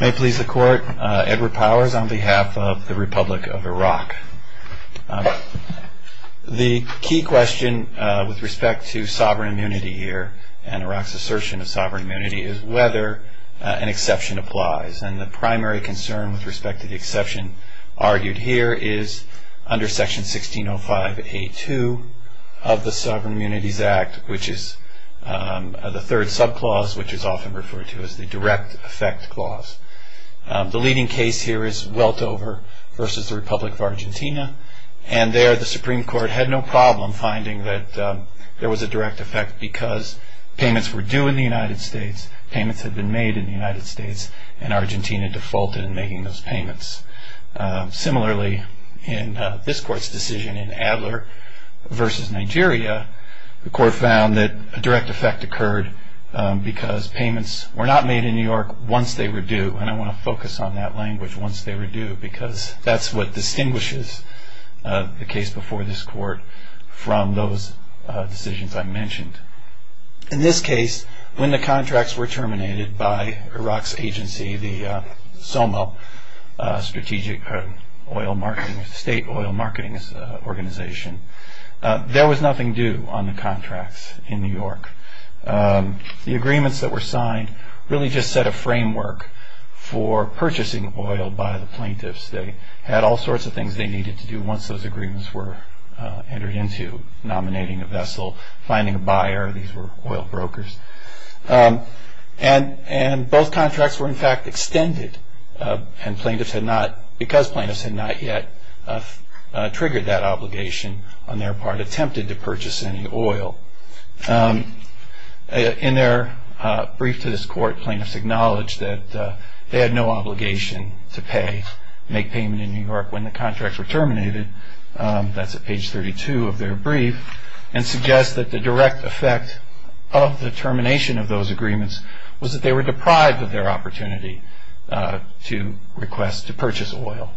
May it please the court, Edward Powers on behalf of the Republic of Iraq. The key question with respect to sovereign immunity here, and Iraq's assertion of sovereign immunity, is whether an exception applies. And the primary concern with respect to the exception argued here is under section 1605A2 of the Sovereign Immunities Act, which is the third sub-clause, which is often referred to as the direct effect clause. The leading case here is Weltover v. The Republic of Argentina, and there the Supreme Court had no problem finding that there was a direct effect because payments were due in the United States, payments had been made in the United States, and Argentina defaulted in making those payments. Similarly, in this court's decision in Adler v. Nigeria, the court found that a direct effect occurred because payments were not made in New York once they were due, and I want to focus on that language, once they were due, because that's what distinguishes the case before this court from those decisions I mentioned. In this case, when the contracts were terminated by Iraq's agency, the SOMA, Strategic Oil Marketing, State Oil Marketing Organization, there was nothing due on the contracts in New York. The agreements that were signed really just set a framework for purchasing oil by the plaintiffs. They had all sorts of things they needed to do once those agreements were entered into, nominating a vessel, finding a buyer, these were oil brokers. And both contracts were in fact extended because plaintiffs had not yet triggered that obligation on their part, attempted to purchase any oil. In their brief to this court, plaintiffs acknowledged that they had no obligation to pay, make payment in New York when the contracts were terminated, that's at page 32 of their brief, and suggest that the direct effect of the termination of those agreements was that they were deprived of their opportunity to request to purchase oil.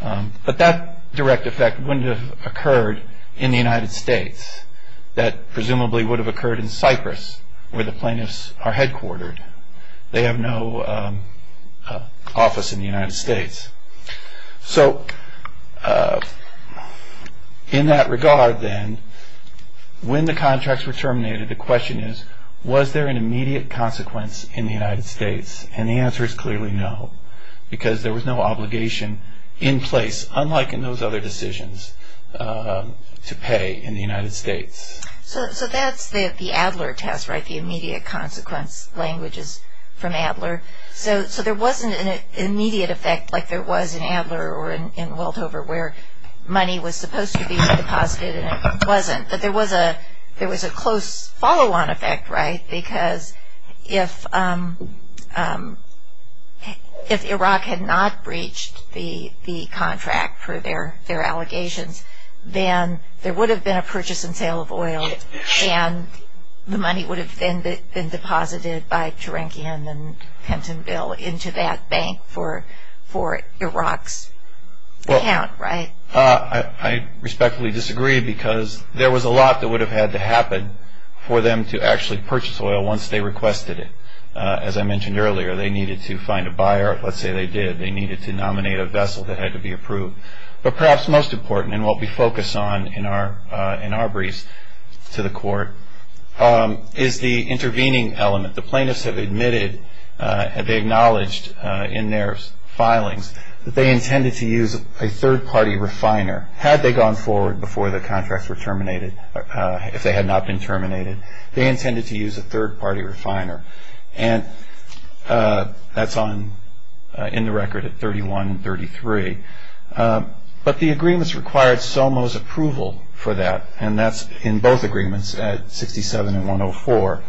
But that direct effect wouldn't have occurred in the United States. That presumably would have occurred in Cyprus, where the plaintiffs are headquartered. They have no office in the United States. So in that regard then, when the contracts were terminated, the question is was there an immediate consequence in the United States? And the answer is clearly no, because there was no obligation in place, unlike in those other decisions, to pay in the United States. So that's the Adler test, right, the immediate consequence language is from Adler. So there wasn't an immediate effect like there was in Adler or in Welthover, where money was supposed to be deposited and it wasn't. But there was a close follow-on effect, right, because if Iraq had not breached the contract for their allegations, then there would have been a purchase and sale of oil, and the money would have then been deposited by Turankian and Pentonville into that bank for Iraq's account, right? I respectfully disagree because there was a lot that would have had to happen for them to actually purchase oil once they requested it. As I mentioned earlier, they needed to find a buyer. Let's say they did. They needed to nominate a vessel that had to be approved. But perhaps most important, and what we focus on in our briefs to the court, is the intervening element. The plaintiffs have admitted, they acknowledged in their filings, that they intended to use a third-party refiner. Had they gone forward before the contracts were terminated, if they had not been terminated, they intended to use a third-party refiner. And that's in the record at 31 and 33. But the agreements required SOMO's approval for that, and that's in both agreements at 67 and 104.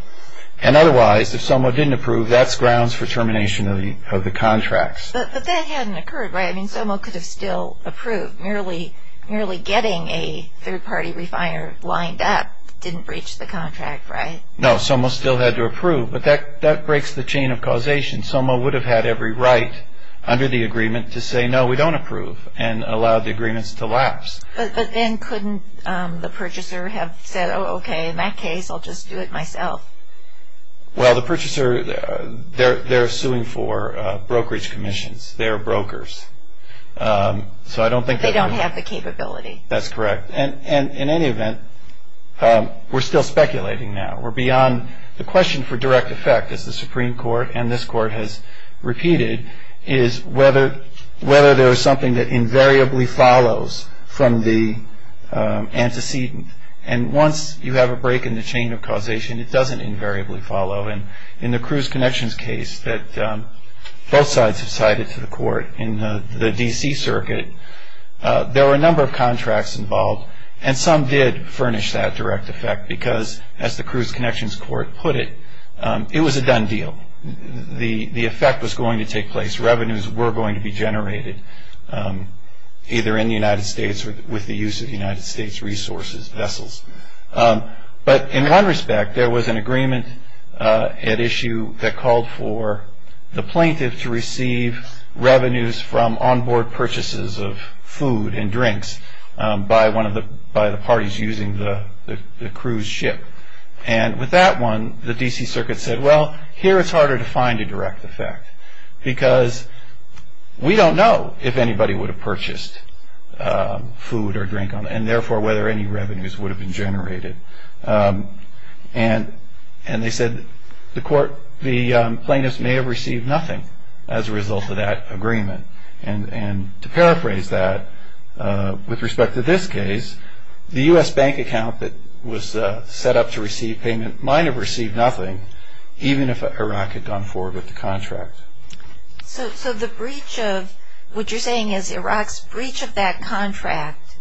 And otherwise, if SOMO didn't approve, that's grounds for termination of the contracts. But that hadn't occurred, right? I mean, SOMO could have still approved. Merely getting a third-party refiner lined up didn't breach the contract, right? No, SOMO still had to approve. But that breaks the chain of causation. SOMO would have had every right under the agreement to say, no, we don't approve, and allow the agreements to lapse. But then couldn't the purchaser have said, okay, in that case, I'll just do it myself? Well, the purchaser, they're suing for brokerage commissions. They're brokers. So I don't think they would have. They don't have the capability. That's correct. And in any event, we're still speculating now. We're beyond the question for direct effect, as the Supreme Court and this court has repeated, is whether there is something that invariably follows from the antecedent. And once you have a break in the chain of causation, it doesn't invariably follow. And in the Cruz Connections case that both sides have cited to the court in the D.C. Circuit, there were a number of contracts involved, and some did furnish that direct effect, because as the Cruz Connections court put it, it was a done deal. The effect was going to take place. Revenues were going to be generated, either in the United States or with the use of United States resources, vessels. But in one respect, there was an agreement at issue that called for the plaintiff to receive revenues from onboard purchases of food and drinks by the parties using the cruise ship. And with that one, the D.C. Circuit said, well, here it's harder to find a direct effect, because we don't know if anybody would have purchased food or drink, and therefore whether any revenues would have been generated. And they said the plaintiffs may have received nothing as a result of that agreement. And to paraphrase that, with respect to this case, the U.S. bank account that was set up to receive payment might have received nothing, even if Iraq had gone forward with the contract. So the breach of what you're saying is Iraq's breach of that contract,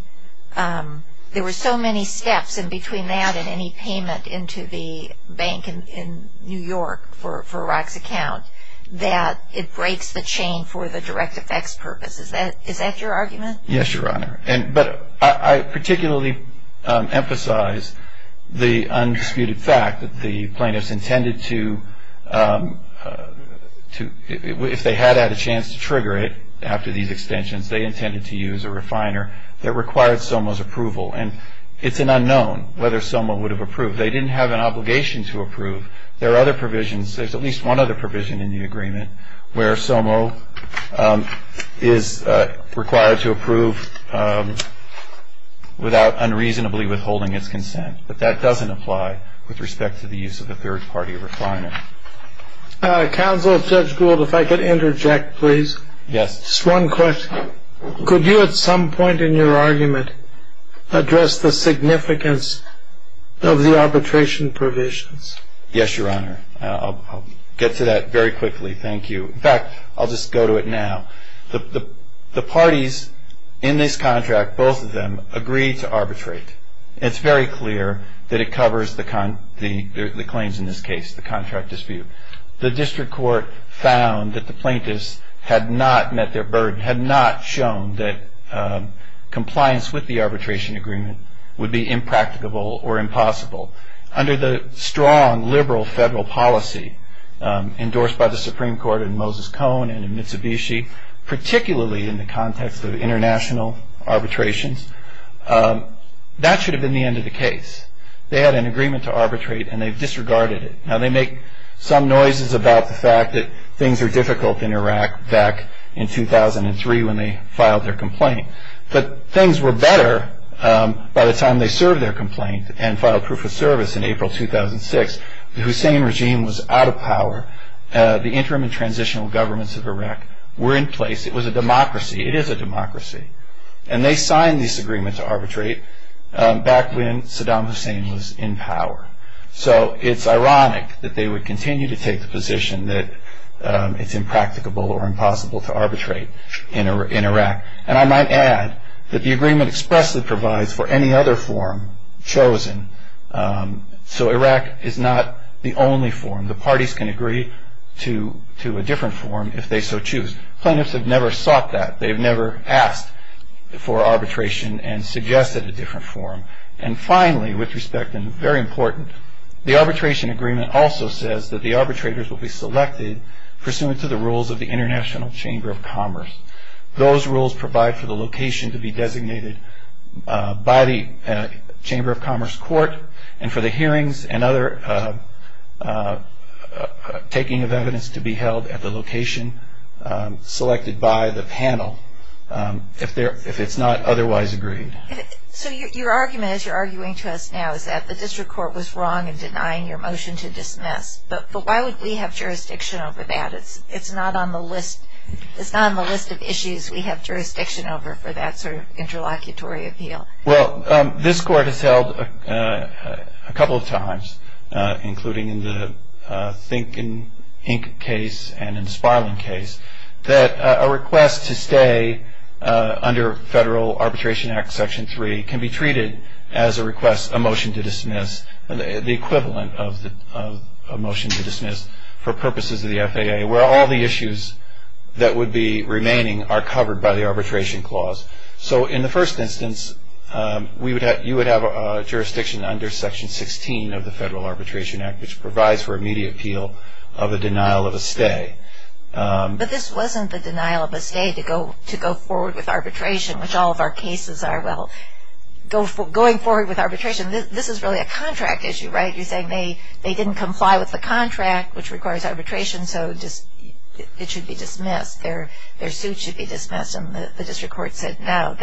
there were so many steps in between that and any payment into the bank in New York for Iraq's account, that it breaks the chain for the direct effects purpose. Is that your argument? Yes, Your Honor. But I particularly emphasize the undisputed fact that the plaintiffs intended to, if they had had a chance to trigger it after these extensions, they intended to use a refiner that required SOMO's approval. And it's an unknown whether SOMO would have approved. They didn't have an obligation to approve. There are other provisions. There's at least one other provision in the agreement where SOMO is required to approve without unreasonably withholding its consent. But that doesn't apply with respect to the use of a third-party refiner. Counsel, Judge Gould, if I could interject, please. Yes. Just one question. Could you at some point in your argument address the significance of the arbitration provisions? Yes, Your Honor. I'll get to that very quickly. Thank you. In fact, I'll just go to it now. The parties in this contract, both of them, agreed to arbitrate. It's very clear that it covers the claims in this case, the contract dispute. The district court found that the plaintiffs had not met their burden, had not shown that compliance with the arbitration agreement would be impracticable or impossible. Under the strong liberal federal policy endorsed by the Supreme Court in Moses Cone and in Mitsubishi, particularly in the context of international arbitrations, that should have been the end of the case. They had an agreement to arbitrate, and they've disregarded it. Now, they make some noises about the fact that things are difficult in Iraq back in 2003 when they filed their complaint. But things were better by the time they served their complaint and filed proof of service in April 2006. The Hussein regime was out of power. The interim and transitional governments of Iraq were in place. It was a democracy. It is a democracy. And they signed this agreement to arbitrate back when Saddam Hussein was in power. So it's ironic that they would continue to take the position that it's impracticable or impossible to arbitrate in Iraq. And I might add that the agreement expressly provides for any other form chosen. So Iraq is not the only form. The parties can agree to a different form if they so choose. Plaintiffs have never sought that. They've never asked for arbitration and suggested a different form. And finally, with respect and very important, the arbitration agreement also says that the arbitrators will be selected pursuant to the rules of the International Chamber of Commerce. Those rules provide for the location to be designated by the Chamber of Commerce court and for the hearings and other taking of evidence to be held at the location selected by the panel if it's not otherwise agreed. So your argument, as you're arguing to us now, is that the district court was wrong in denying your motion to dismiss. But why would we have jurisdiction over that? It's not on the list of issues we have jurisdiction over for that sort of interlocutory appeal. Well, this court has held a couple of times, including in the Think, Inc. case and in the Sparling case, that a request to stay under Federal Arbitration Act Section 3 can be treated as a request, a motion to dismiss, the equivalent of a motion to dismiss for purposes of the FAA, where all the issues that would be remaining are covered by the arbitration clause. So in the first instance, you would have jurisdiction under Section 16 of the Federal Arbitration Act, which provides for immediate appeal of a denial of a stay. But this wasn't the denial of a stay to go forward with arbitration, which all of our cases are. Well, going forward with arbitration, this is really a contract issue, right? You're saying they didn't comply with the contract, which requires arbitration, so it should be dismissed. Their suit should be dismissed, and the district court said no.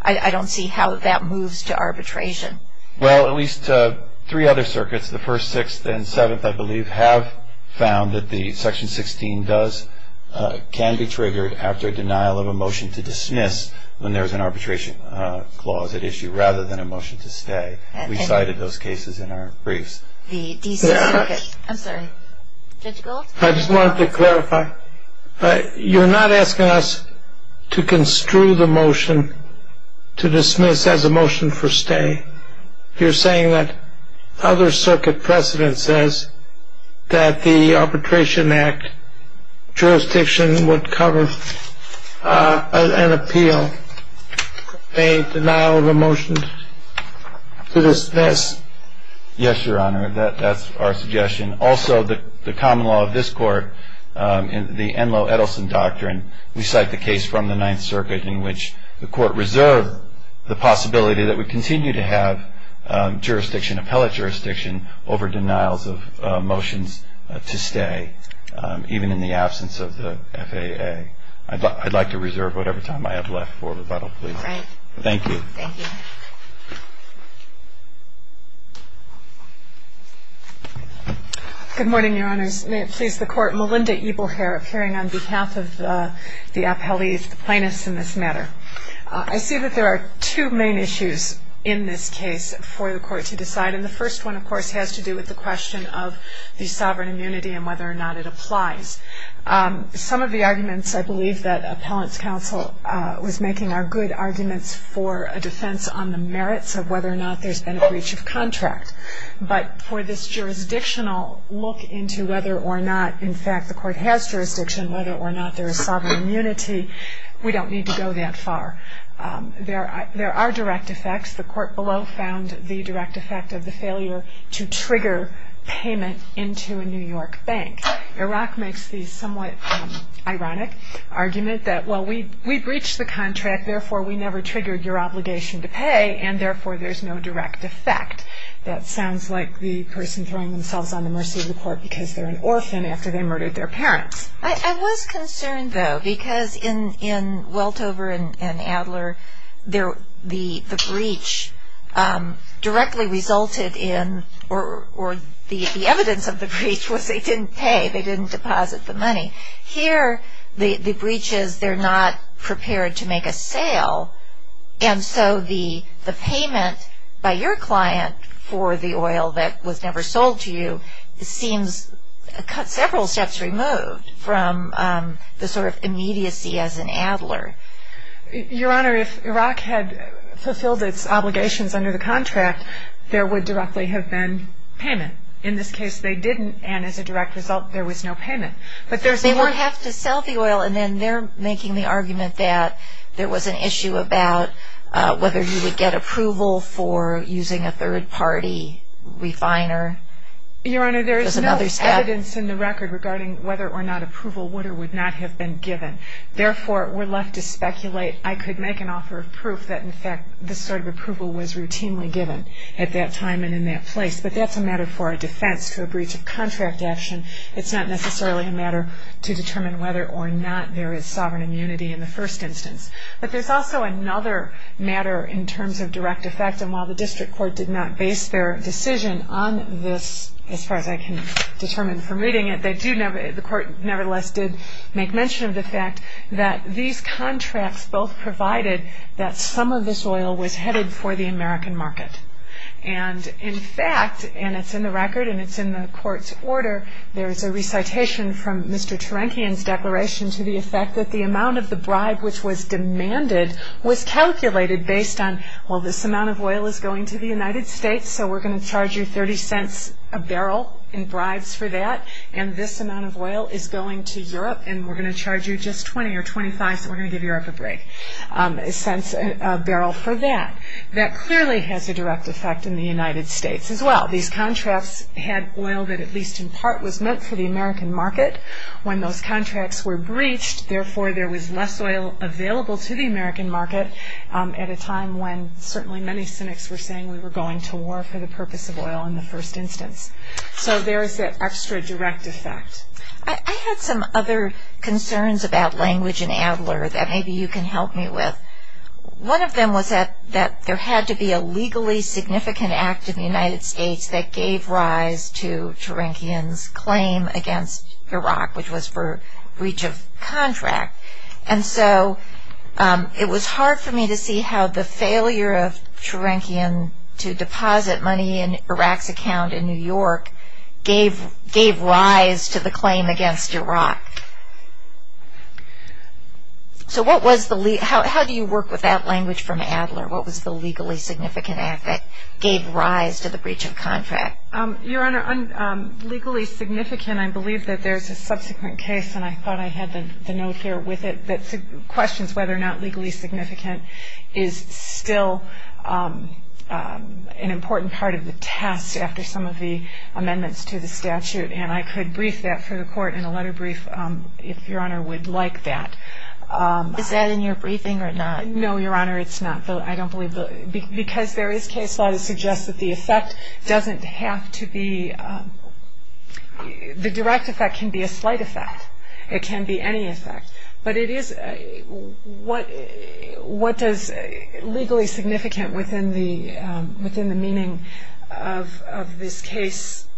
I don't see how that moves to arbitration. Well, at least three other circuits, the First, Sixth, and Seventh, I believe, have found that the Section 16 can be triggered after a denial of a motion to dismiss when there is an arbitration clause at issue, rather than a motion to stay. We cited those cases in our briefs. I just wanted to clarify. You're not asking us to construe the motion to dismiss as a motion for stay. You're saying that other circuit precedent says that the Arbitration Act jurisdiction would cover an appeal, a denial of a motion to dismiss. Yes, Your Honor, that's our suggestion. Also, the common law of this Court, the Enloe-Edelson Doctrine, we cite the case from the Ninth Circuit in which the Court reserved the possibility that we continue to have appellate jurisdiction over denials of motions to stay, even in the absence of the FAA. I'd like to reserve whatever time I have left for rebuttal, please. All right. Thank you. Thank you. Good morning, Your Honors. May it please the Court, Melinda Ebelheir, appearing on behalf of the appellees, the plaintiffs in this matter. I see that there are two main issues in this case for the Court to decide, and the first one, of course, has to do with the question of the sovereign immunity and whether or not it applies. Some of the arguments, I believe, that Appellant's Counsel was making are good arguments for a defense on the merits of whether or not there's been a breach of contract. But for this jurisdictional look into whether or not, in fact, the Court has jurisdiction, whether or not there is sovereign immunity, we don't need to go that far. There are direct effects. The Court below found the direct effect of the failure to trigger payment into a New York bank. Iraq makes the somewhat ironic argument that, well, we breached the contract, therefore we never triggered your obligation to pay, and therefore there's no direct effect. That sounds like the person throwing themselves on the mercy of the Court because they're an orphan after they murdered their parents. I was concerned, though, because in Weltover and Adler, the breach directly resulted in or the evidence of the breach was they didn't pay, they didn't deposit the money. Here, the breach is they're not prepared to make a sale, and so the payment by your client for the oil that was never sold to you seems several steps removed from the sort of immediacy as in Adler. Your Honor, if Iraq had fulfilled its obligations under the contract, there would directly have been payment. In this case, they didn't, and as a direct result, there was no payment. They won't have to sell the oil, and then they're making the argument that there was an issue about whether you would get approval for using a third-party refiner. Your Honor, there is no evidence in the record regarding whether or not approval would or would not have been given. Therefore, we're left to speculate. I could make an offer of proof that, in fact, this sort of approval was routinely given at that time and in that place, but that's a matter for a defense to a breach of contract action. It's not necessarily a matter to determine whether or not there is sovereign immunity in the first instance. But there's also another matter in terms of direct effect, and while the district court did not base their decision on this, as far as I can determine from reading it, the court nevertheless did make mention of the fact that these contracts both provided that some of this oil was headed for the American market. And, in fact, and it's in the record and it's in the court's order, there is a recitation from Mr. Terankian's declaration to the effect that the amount of the bribe which was demanded was calculated based on, well, this amount of oil is going to the United States, so we're going to charge you 30 cents a barrel in bribes for that, and this amount of oil is going to Europe, and we're going to charge you just 20 or 25, so we're going to give Europe a break, a barrel for that. That clearly has a direct effect in the United States as well. These contracts had oil that at least in part was meant for the American market. When those contracts were breached, therefore there was less oil available to the American market at a time when certainly many cynics were saying we were going to war for the purpose of oil in the first instance. So there is that extra direct effect. I had some other concerns about language in Adler that maybe you can help me with. One of them was that there had to be a legally significant act in the United States that gave rise to Terankian's claim against Iraq, which was for breach of contract. And so it was hard for me to see how the failure of Terankian to deposit money in Iraq's account in New York gave rise to the claim against Iraq. So how do you work with that language from Adler? What was the legally significant act that gave rise to the breach of contract? Your Honor, legally significant, I believe that there's a subsequent case, and I thought I had the note here with it, that questions whether or not legally significant is still an important part of the test after some of the amendments to the statute. And I could brief that for the Court in a letter brief if Your Honor would like that. Is that in your briefing or not? No, Your Honor, it's not. I don't believe the – because there is case law that suggests that the effect doesn't have to be – the direct effect can be a slight effect. It can be any effect. But it is – what does legally significant within the meaning of this case –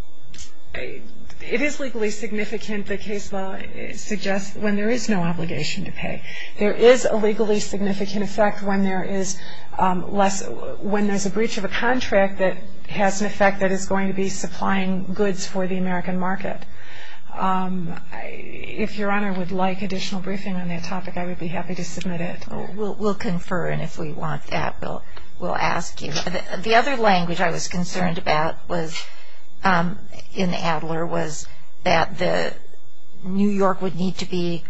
it is legally significant, the case law suggests, when there is no obligation to pay. There is a legally significant effect when there is less – when there's a breach of a contract that has an effect that is going to be supplying goods for the American market. If Your Honor would like additional briefing on that topic, I would be happy to submit it. We'll confer, and if we want that, we'll ask you. The other language I was concerned about was – in Adler – was that New York would need to be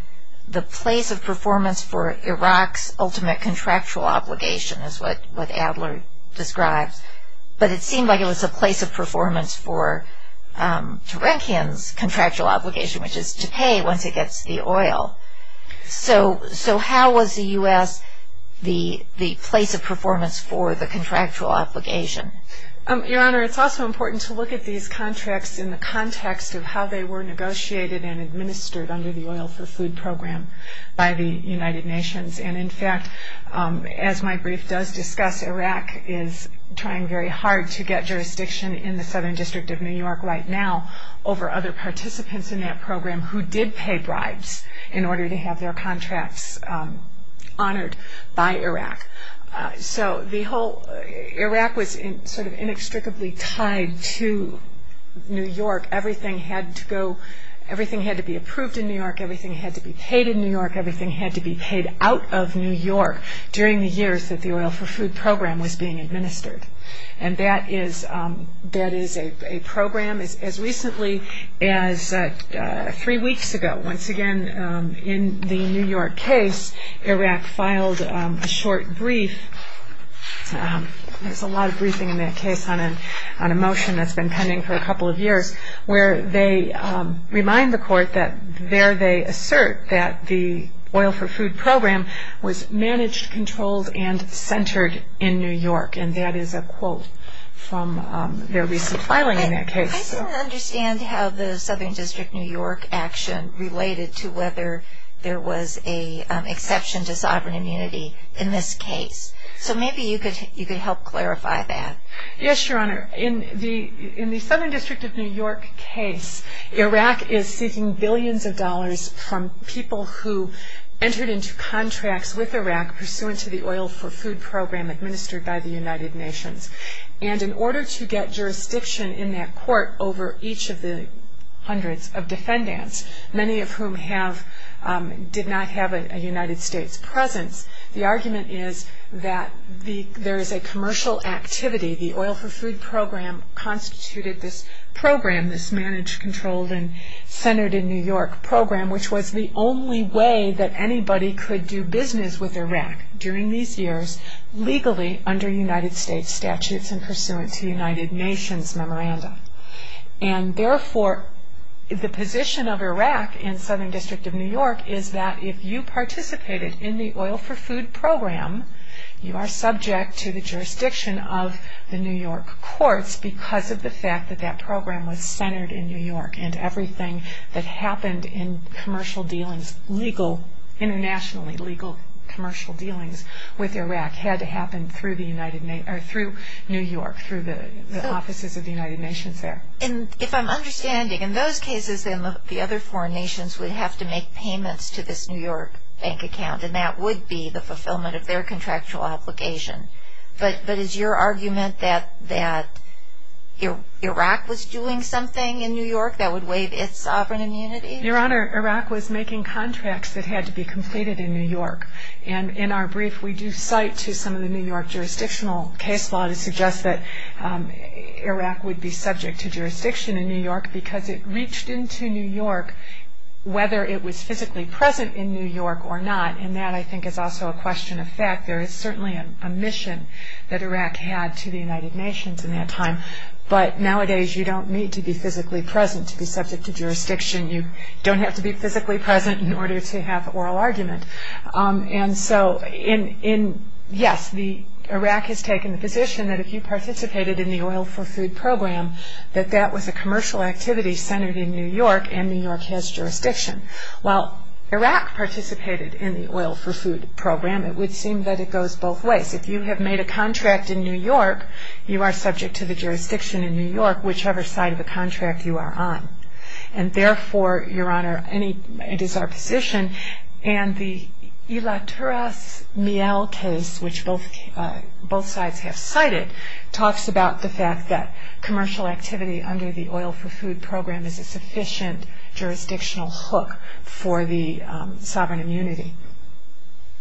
the place of performance for Iraq's ultimate contractual obligation, is what Adler describes. But it seemed like it was a place of performance for Turankian's contractual obligation, which is to pay once it gets the oil. So how was the U.S. the place of performance for the contractual obligation? Your Honor, it's also important to look at these contracts in the context of how they were negotiated and administered under the Oil for Food Program by the United Nations. And in fact, as my brief does discuss, Iraq is trying very hard to get jurisdiction in the Southern District of New York right now over other participants in that program who did pay bribes in order to have their contracts honored by Iraq. So the whole – Iraq was sort of inextricably tied to New York. Everything had to go – everything had to be approved in New York. Everything had to be paid in New York. Everything had to be paid out of New York during the years that the Oil for Food Program was being administered. And that is a program. As recently as three weeks ago, once again, in the New York case, Iraq filed a short brief. There's a lot of briefing in that case on a motion that's been pending for a couple of years where they remind the court that there they assert that the Oil for Food Program was managed, controlled, and centered in New York. And that is a quote from their recent filing in that case. I still don't understand how the Southern District of New York action related to whether there was an exception to sovereign immunity in this case. So maybe you could help clarify that. Yes, Your Honor. In the Southern District of New York case, Iraq is seeking billions of dollars from people who entered into contracts with Iraq pursuant to the Oil for Food Program administered by the United Nations. And in order to get jurisdiction in that court over each of the hundreds of defendants, many of whom have – did not have a United States presence, the argument is that there is a commercial activity. The Oil for Food Program constituted this program, this managed, controlled, and centered in New York program, which was the only way that anybody could do business with Iraq during these years legally under United States statutes and pursuant to United Nations memoranda. And therefore, the position of Iraq in Southern District of New York is that if you participated in the Oil for Food Program, you are subject to the jurisdiction of the New York courts because of the fact that that program was centered in New York and everything that happened in commercial dealings, legal, internationally legal commercial dealings with Iraq had to happen through New York, through the offices of the United Nations there. And if I'm understanding, in those cases, then the other foreign nations would have to make payments to this New York bank account, and that would be the fulfillment of their contractual obligation. But is your argument that Iraq was doing something in New York that would waive its sovereign immunity? Your Honor, Iraq was making contracts that had to be completed in New York. And in our brief, we do cite to some of the New York jurisdictional case law to suggest that Iraq would be subject to jurisdiction in New York because it reached into New York whether it was physically present in New York or not. And that, I think, is also a question of fact. There is certainly a mission that Iraq had to the United Nations in that time. But nowadays, you don't need to be physically present to be subject to jurisdiction. You don't have to be physically present in order to have oral argument. And so, yes, Iraq has taken the position that if you participated in the Oil for Food Program, that that was a commercial activity centered in New York, and New York has jurisdiction. While Iraq participated in the Oil for Food Program, it would seem that it goes both ways. If you have made a contract in New York, you are subject to the jurisdiction in New York, whichever side of the contract you are on. And therefore, Your Honor, it is our position, and the Ilatouras Miel case, which both sides have cited, talks about the fact that commercial activity under the Oil for Food Program is a sufficient jurisdictional hook for the sovereign immunity,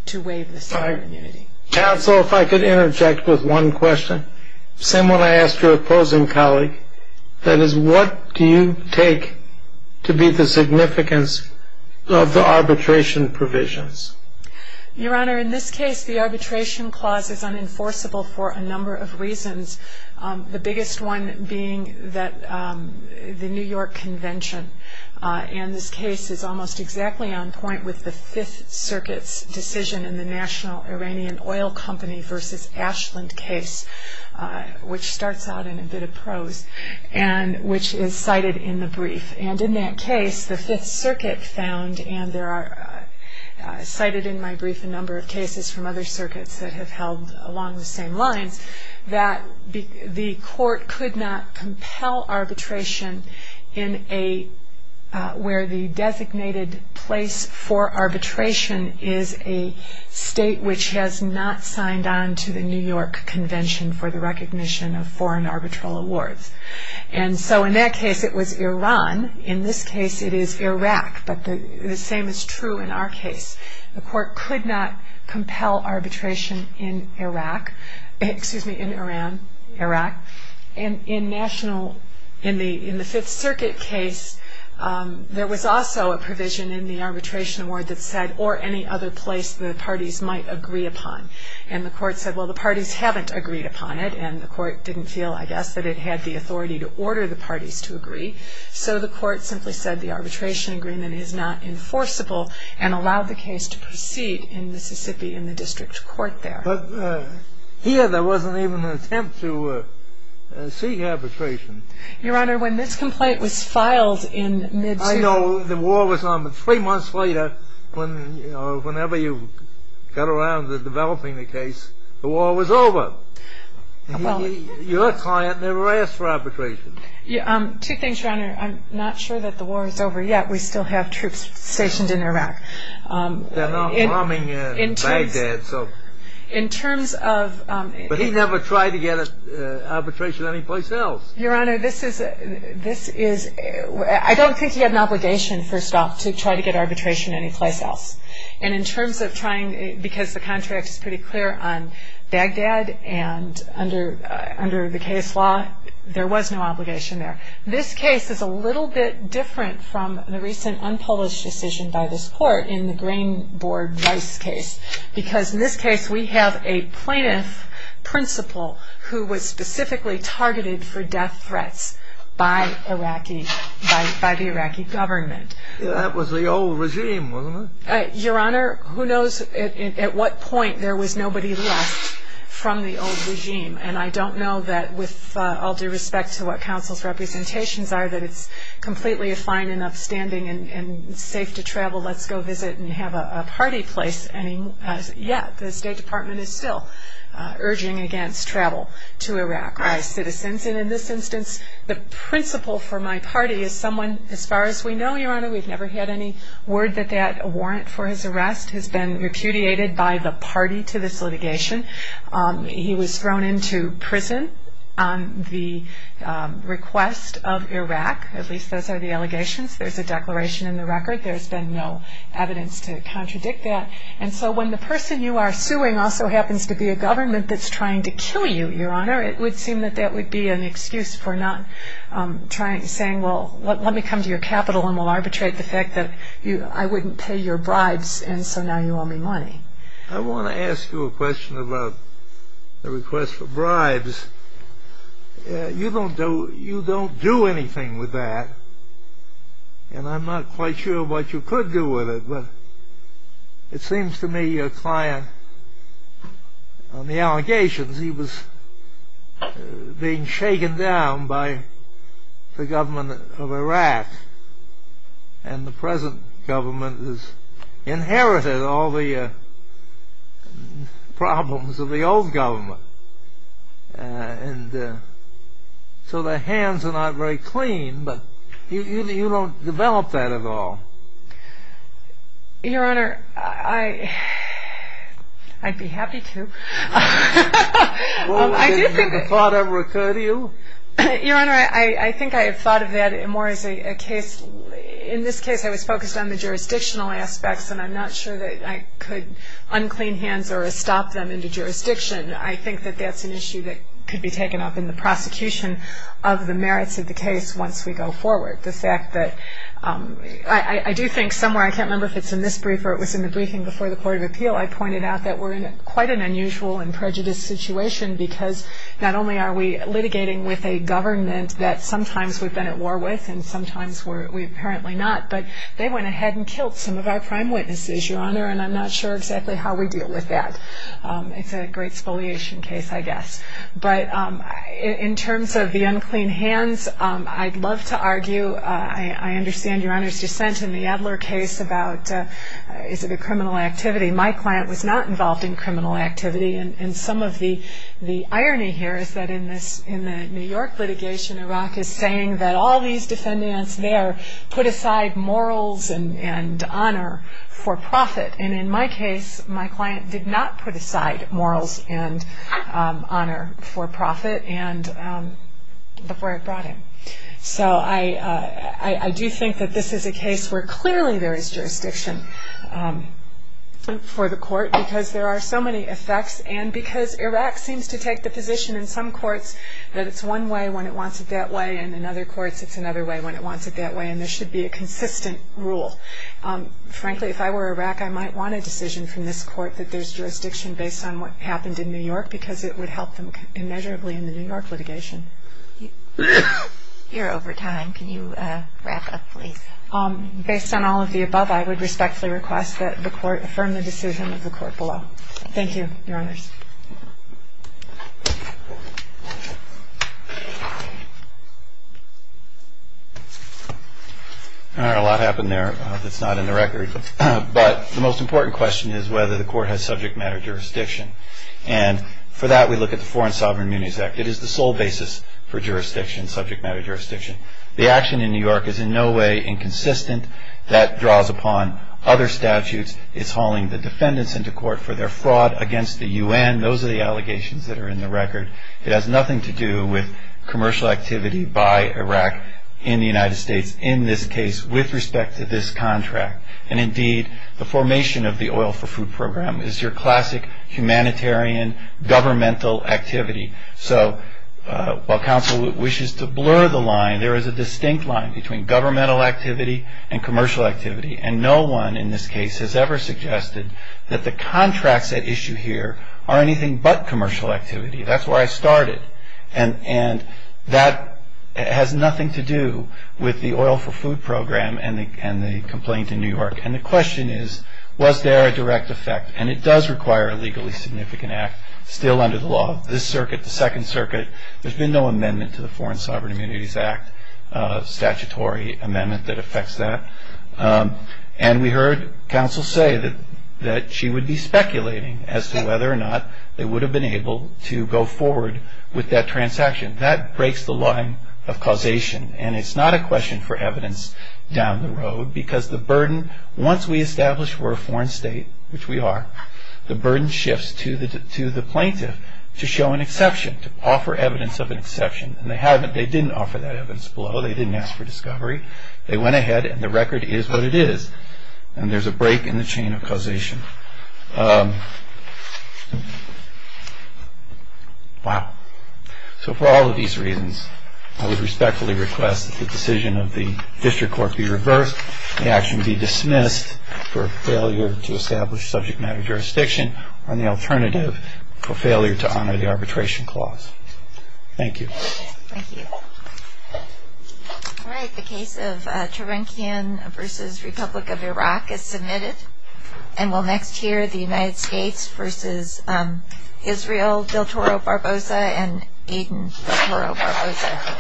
to waive the sovereign immunity. Counsel, if I could interject with one question. Same one I asked your opposing colleague. That is, what do you take to be the significance of the arbitration provisions? Your Honor, in this case, the arbitration clause is unenforceable for a number of reasons, the biggest one being the New York Convention. And this case is almost exactly on point with the Fifth Circuit's decision in the National Iranian Oil Company v. Ashland case, which starts out in a bit of prose, and which is cited in the brief. And in that case, the Fifth Circuit found, and there are cited in my brief a number of cases from other circuits that have held along the same lines, that the court could not compel arbitration where the designated place for arbitration is a state which has not signed on to the New York Convention for the recognition of foreign arbitral awards. And so in that case, it was Iran. In this case, it is Iraq. But the same is true in our case. The court could not compel arbitration in Iraq, excuse me, in Iran, Iraq. And in the Fifth Circuit case, there was also a provision in the arbitration award that said, or any other place the parties might agree upon. And the court said, well, the parties haven't agreed upon it, and the court didn't feel, I guess, that it had the authority to order the parties to agree. So the court simply said the arbitration agreement is not enforceable and allowed the case to proceed in Mississippi in the district court there. But here there wasn't even an attempt to seek arbitration. Your Honor, when this complaint was filed in mid-September. I know the war was on, but three months later, whenever you got around to developing the case, the war was over. Your client never asked for arbitration. Two things, Your Honor. I'm not sure that the war is over yet. We still have troops stationed in Iraq. They're not bombing Baghdad, so. In terms of... But he never tried to get arbitration anyplace else. Your Honor, this is... I don't think he had an obligation, first off, to try to get arbitration anyplace else. And in terms of trying, because the contract is pretty clear on Baghdad and under the case law, there was no obligation there. This case is a little bit different from the recent unpublished decision by this court in the Green Board Vice case, because in this case we have a plaintiff principal who was specifically targeted for death threats by the Iraqi government. That was the old regime, wasn't it? Your Honor, who knows at what point there was nobody left from the old regime. And I don't know that with all due respect to what counsel's representations are, that it's completely fine and upstanding and safe to travel, let's go visit and have a party place. Yet the State Department is still urging against travel to Iraq by citizens. And in this instance, the principal for my party is someone, as far as we know, Your Honor, we've never had any word that that warrant for his arrest has been repudiated by the party to this litigation. He was thrown into prison on the request of Iraq. At least those are the allegations. There's a declaration in the record. There's been no evidence to contradict that. And so when the person you are suing also happens to be a government that's trying to kill you, Your Honor, it would seem that that would be an excuse for not saying, well, let me come to your capital and we'll arbitrate the fact that I wouldn't pay your bribes and so now you owe me money. I want to ask you a question about the request for bribes. You don't do anything with that, and I'm not quite sure what you could do with it, but it seems to me your client on the allegations, he was being shaken down by the government of Iraq and the present government has inherited all the problems of the old government. And so the hands are not very clean, but you don't develop that at all. Your Honor, I'd be happy to. Well, has that thought ever occurred to you? Your Honor, I think I have thought of that more as a case. In this case, I was focused on the jurisdictional aspects and I'm not sure that I could unclean hands or stop them into jurisdiction. I think that that's an issue that could be taken up in the prosecution of the merits of the case once we go forward. The fact that I do think somewhere, I can't remember if it's in this brief or it was in the briefing before the Court of Appeal, I pointed out that we're in quite an unusual and prejudiced situation because not only are we litigating with a government that sometimes we've been at war with and sometimes we apparently not, but they went ahead and killed some of our prime witnesses, Your Honor, and I'm not sure exactly how we deal with that. It's a great spoliation case, I guess. But in terms of the unclean hands, I'd love to argue. I understand Your Honor's dissent in the Adler case about is it a criminal activity. My client was not involved in criminal activity, and some of the irony here is that in the New York litigation, Iraq is saying that all these defendants there put aside morals and honor for profit, and in my case, my client did not put aside morals and honor for profit before it brought him. So I do think that this is a case where clearly there is jurisdiction for the court because there are so many effects and because Iraq seems to take the position in some courts that it's one way when it wants it that way, and in other courts it's another way when it wants it that way, and there should be a consistent rule. Frankly, if I were Iraq, I might want a decision from this court that there's jurisdiction based on what happened in New York because it would help them immeasurably in the New York litigation. You're over time. Can you wrap up, please? Based on all of the above, I would respectfully request that the court affirm the decision of the court below. Thank you, Your Honors. All right. A lot happened there that's not in the record, but the most important question is whether the court has subject matter jurisdiction, and for that we look at the Foreign Sovereign Immunities Act. It is the sole basis for jurisdiction, subject matter jurisdiction. The action in New York is in no way inconsistent. That draws upon other statutes. Again, those are the allegations that are in the record. It has nothing to do with commercial activity by Iraq in the United States in this case with respect to this contract, and indeed the formation of the oil for food program is your classic humanitarian governmental activity. So while counsel wishes to blur the line, there is a distinct line between governmental activity and commercial activity, and no one in this case has ever suggested that the contracts at issue here are anything but commercial activity. That's where I started, and that has nothing to do with the oil for food program and the complaint in New York, and the question is was there a direct effect, and it does require a legally significant act still under the law. This circuit, the Second Circuit, there's been no amendment to the Foreign Sovereign Immunities Act statutory amendment that affects that, and we heard counsel say that she would be speculating as to whether or not they would have been able to go forward with that transaction. That breaks the line of causation, and it's not a question for evidence down the road because the burden once we establish we're a foreign state, which we are, the burden shifts to the plaintiff to show an exception, to offer evidence of an exception, and they didn't offer that evidence below. They didn't ask for discovery. They went ahead, and the record is what it is, and there's a break in the chain of causation. Wow. So for all of these reasons, I would respectfully request that the decision of the district court be reversed, the action be dismissed for failure to establish subject matter jurisdiction, and the alternative for failure to honor the arbitration clause. Thank you. Thank you. All right. The case of Trevinkian v. Republic of Iraq is submitted, and we'll next hear the United States v. Israel del Toro Barbosa and Aiden del Toro Barbosa.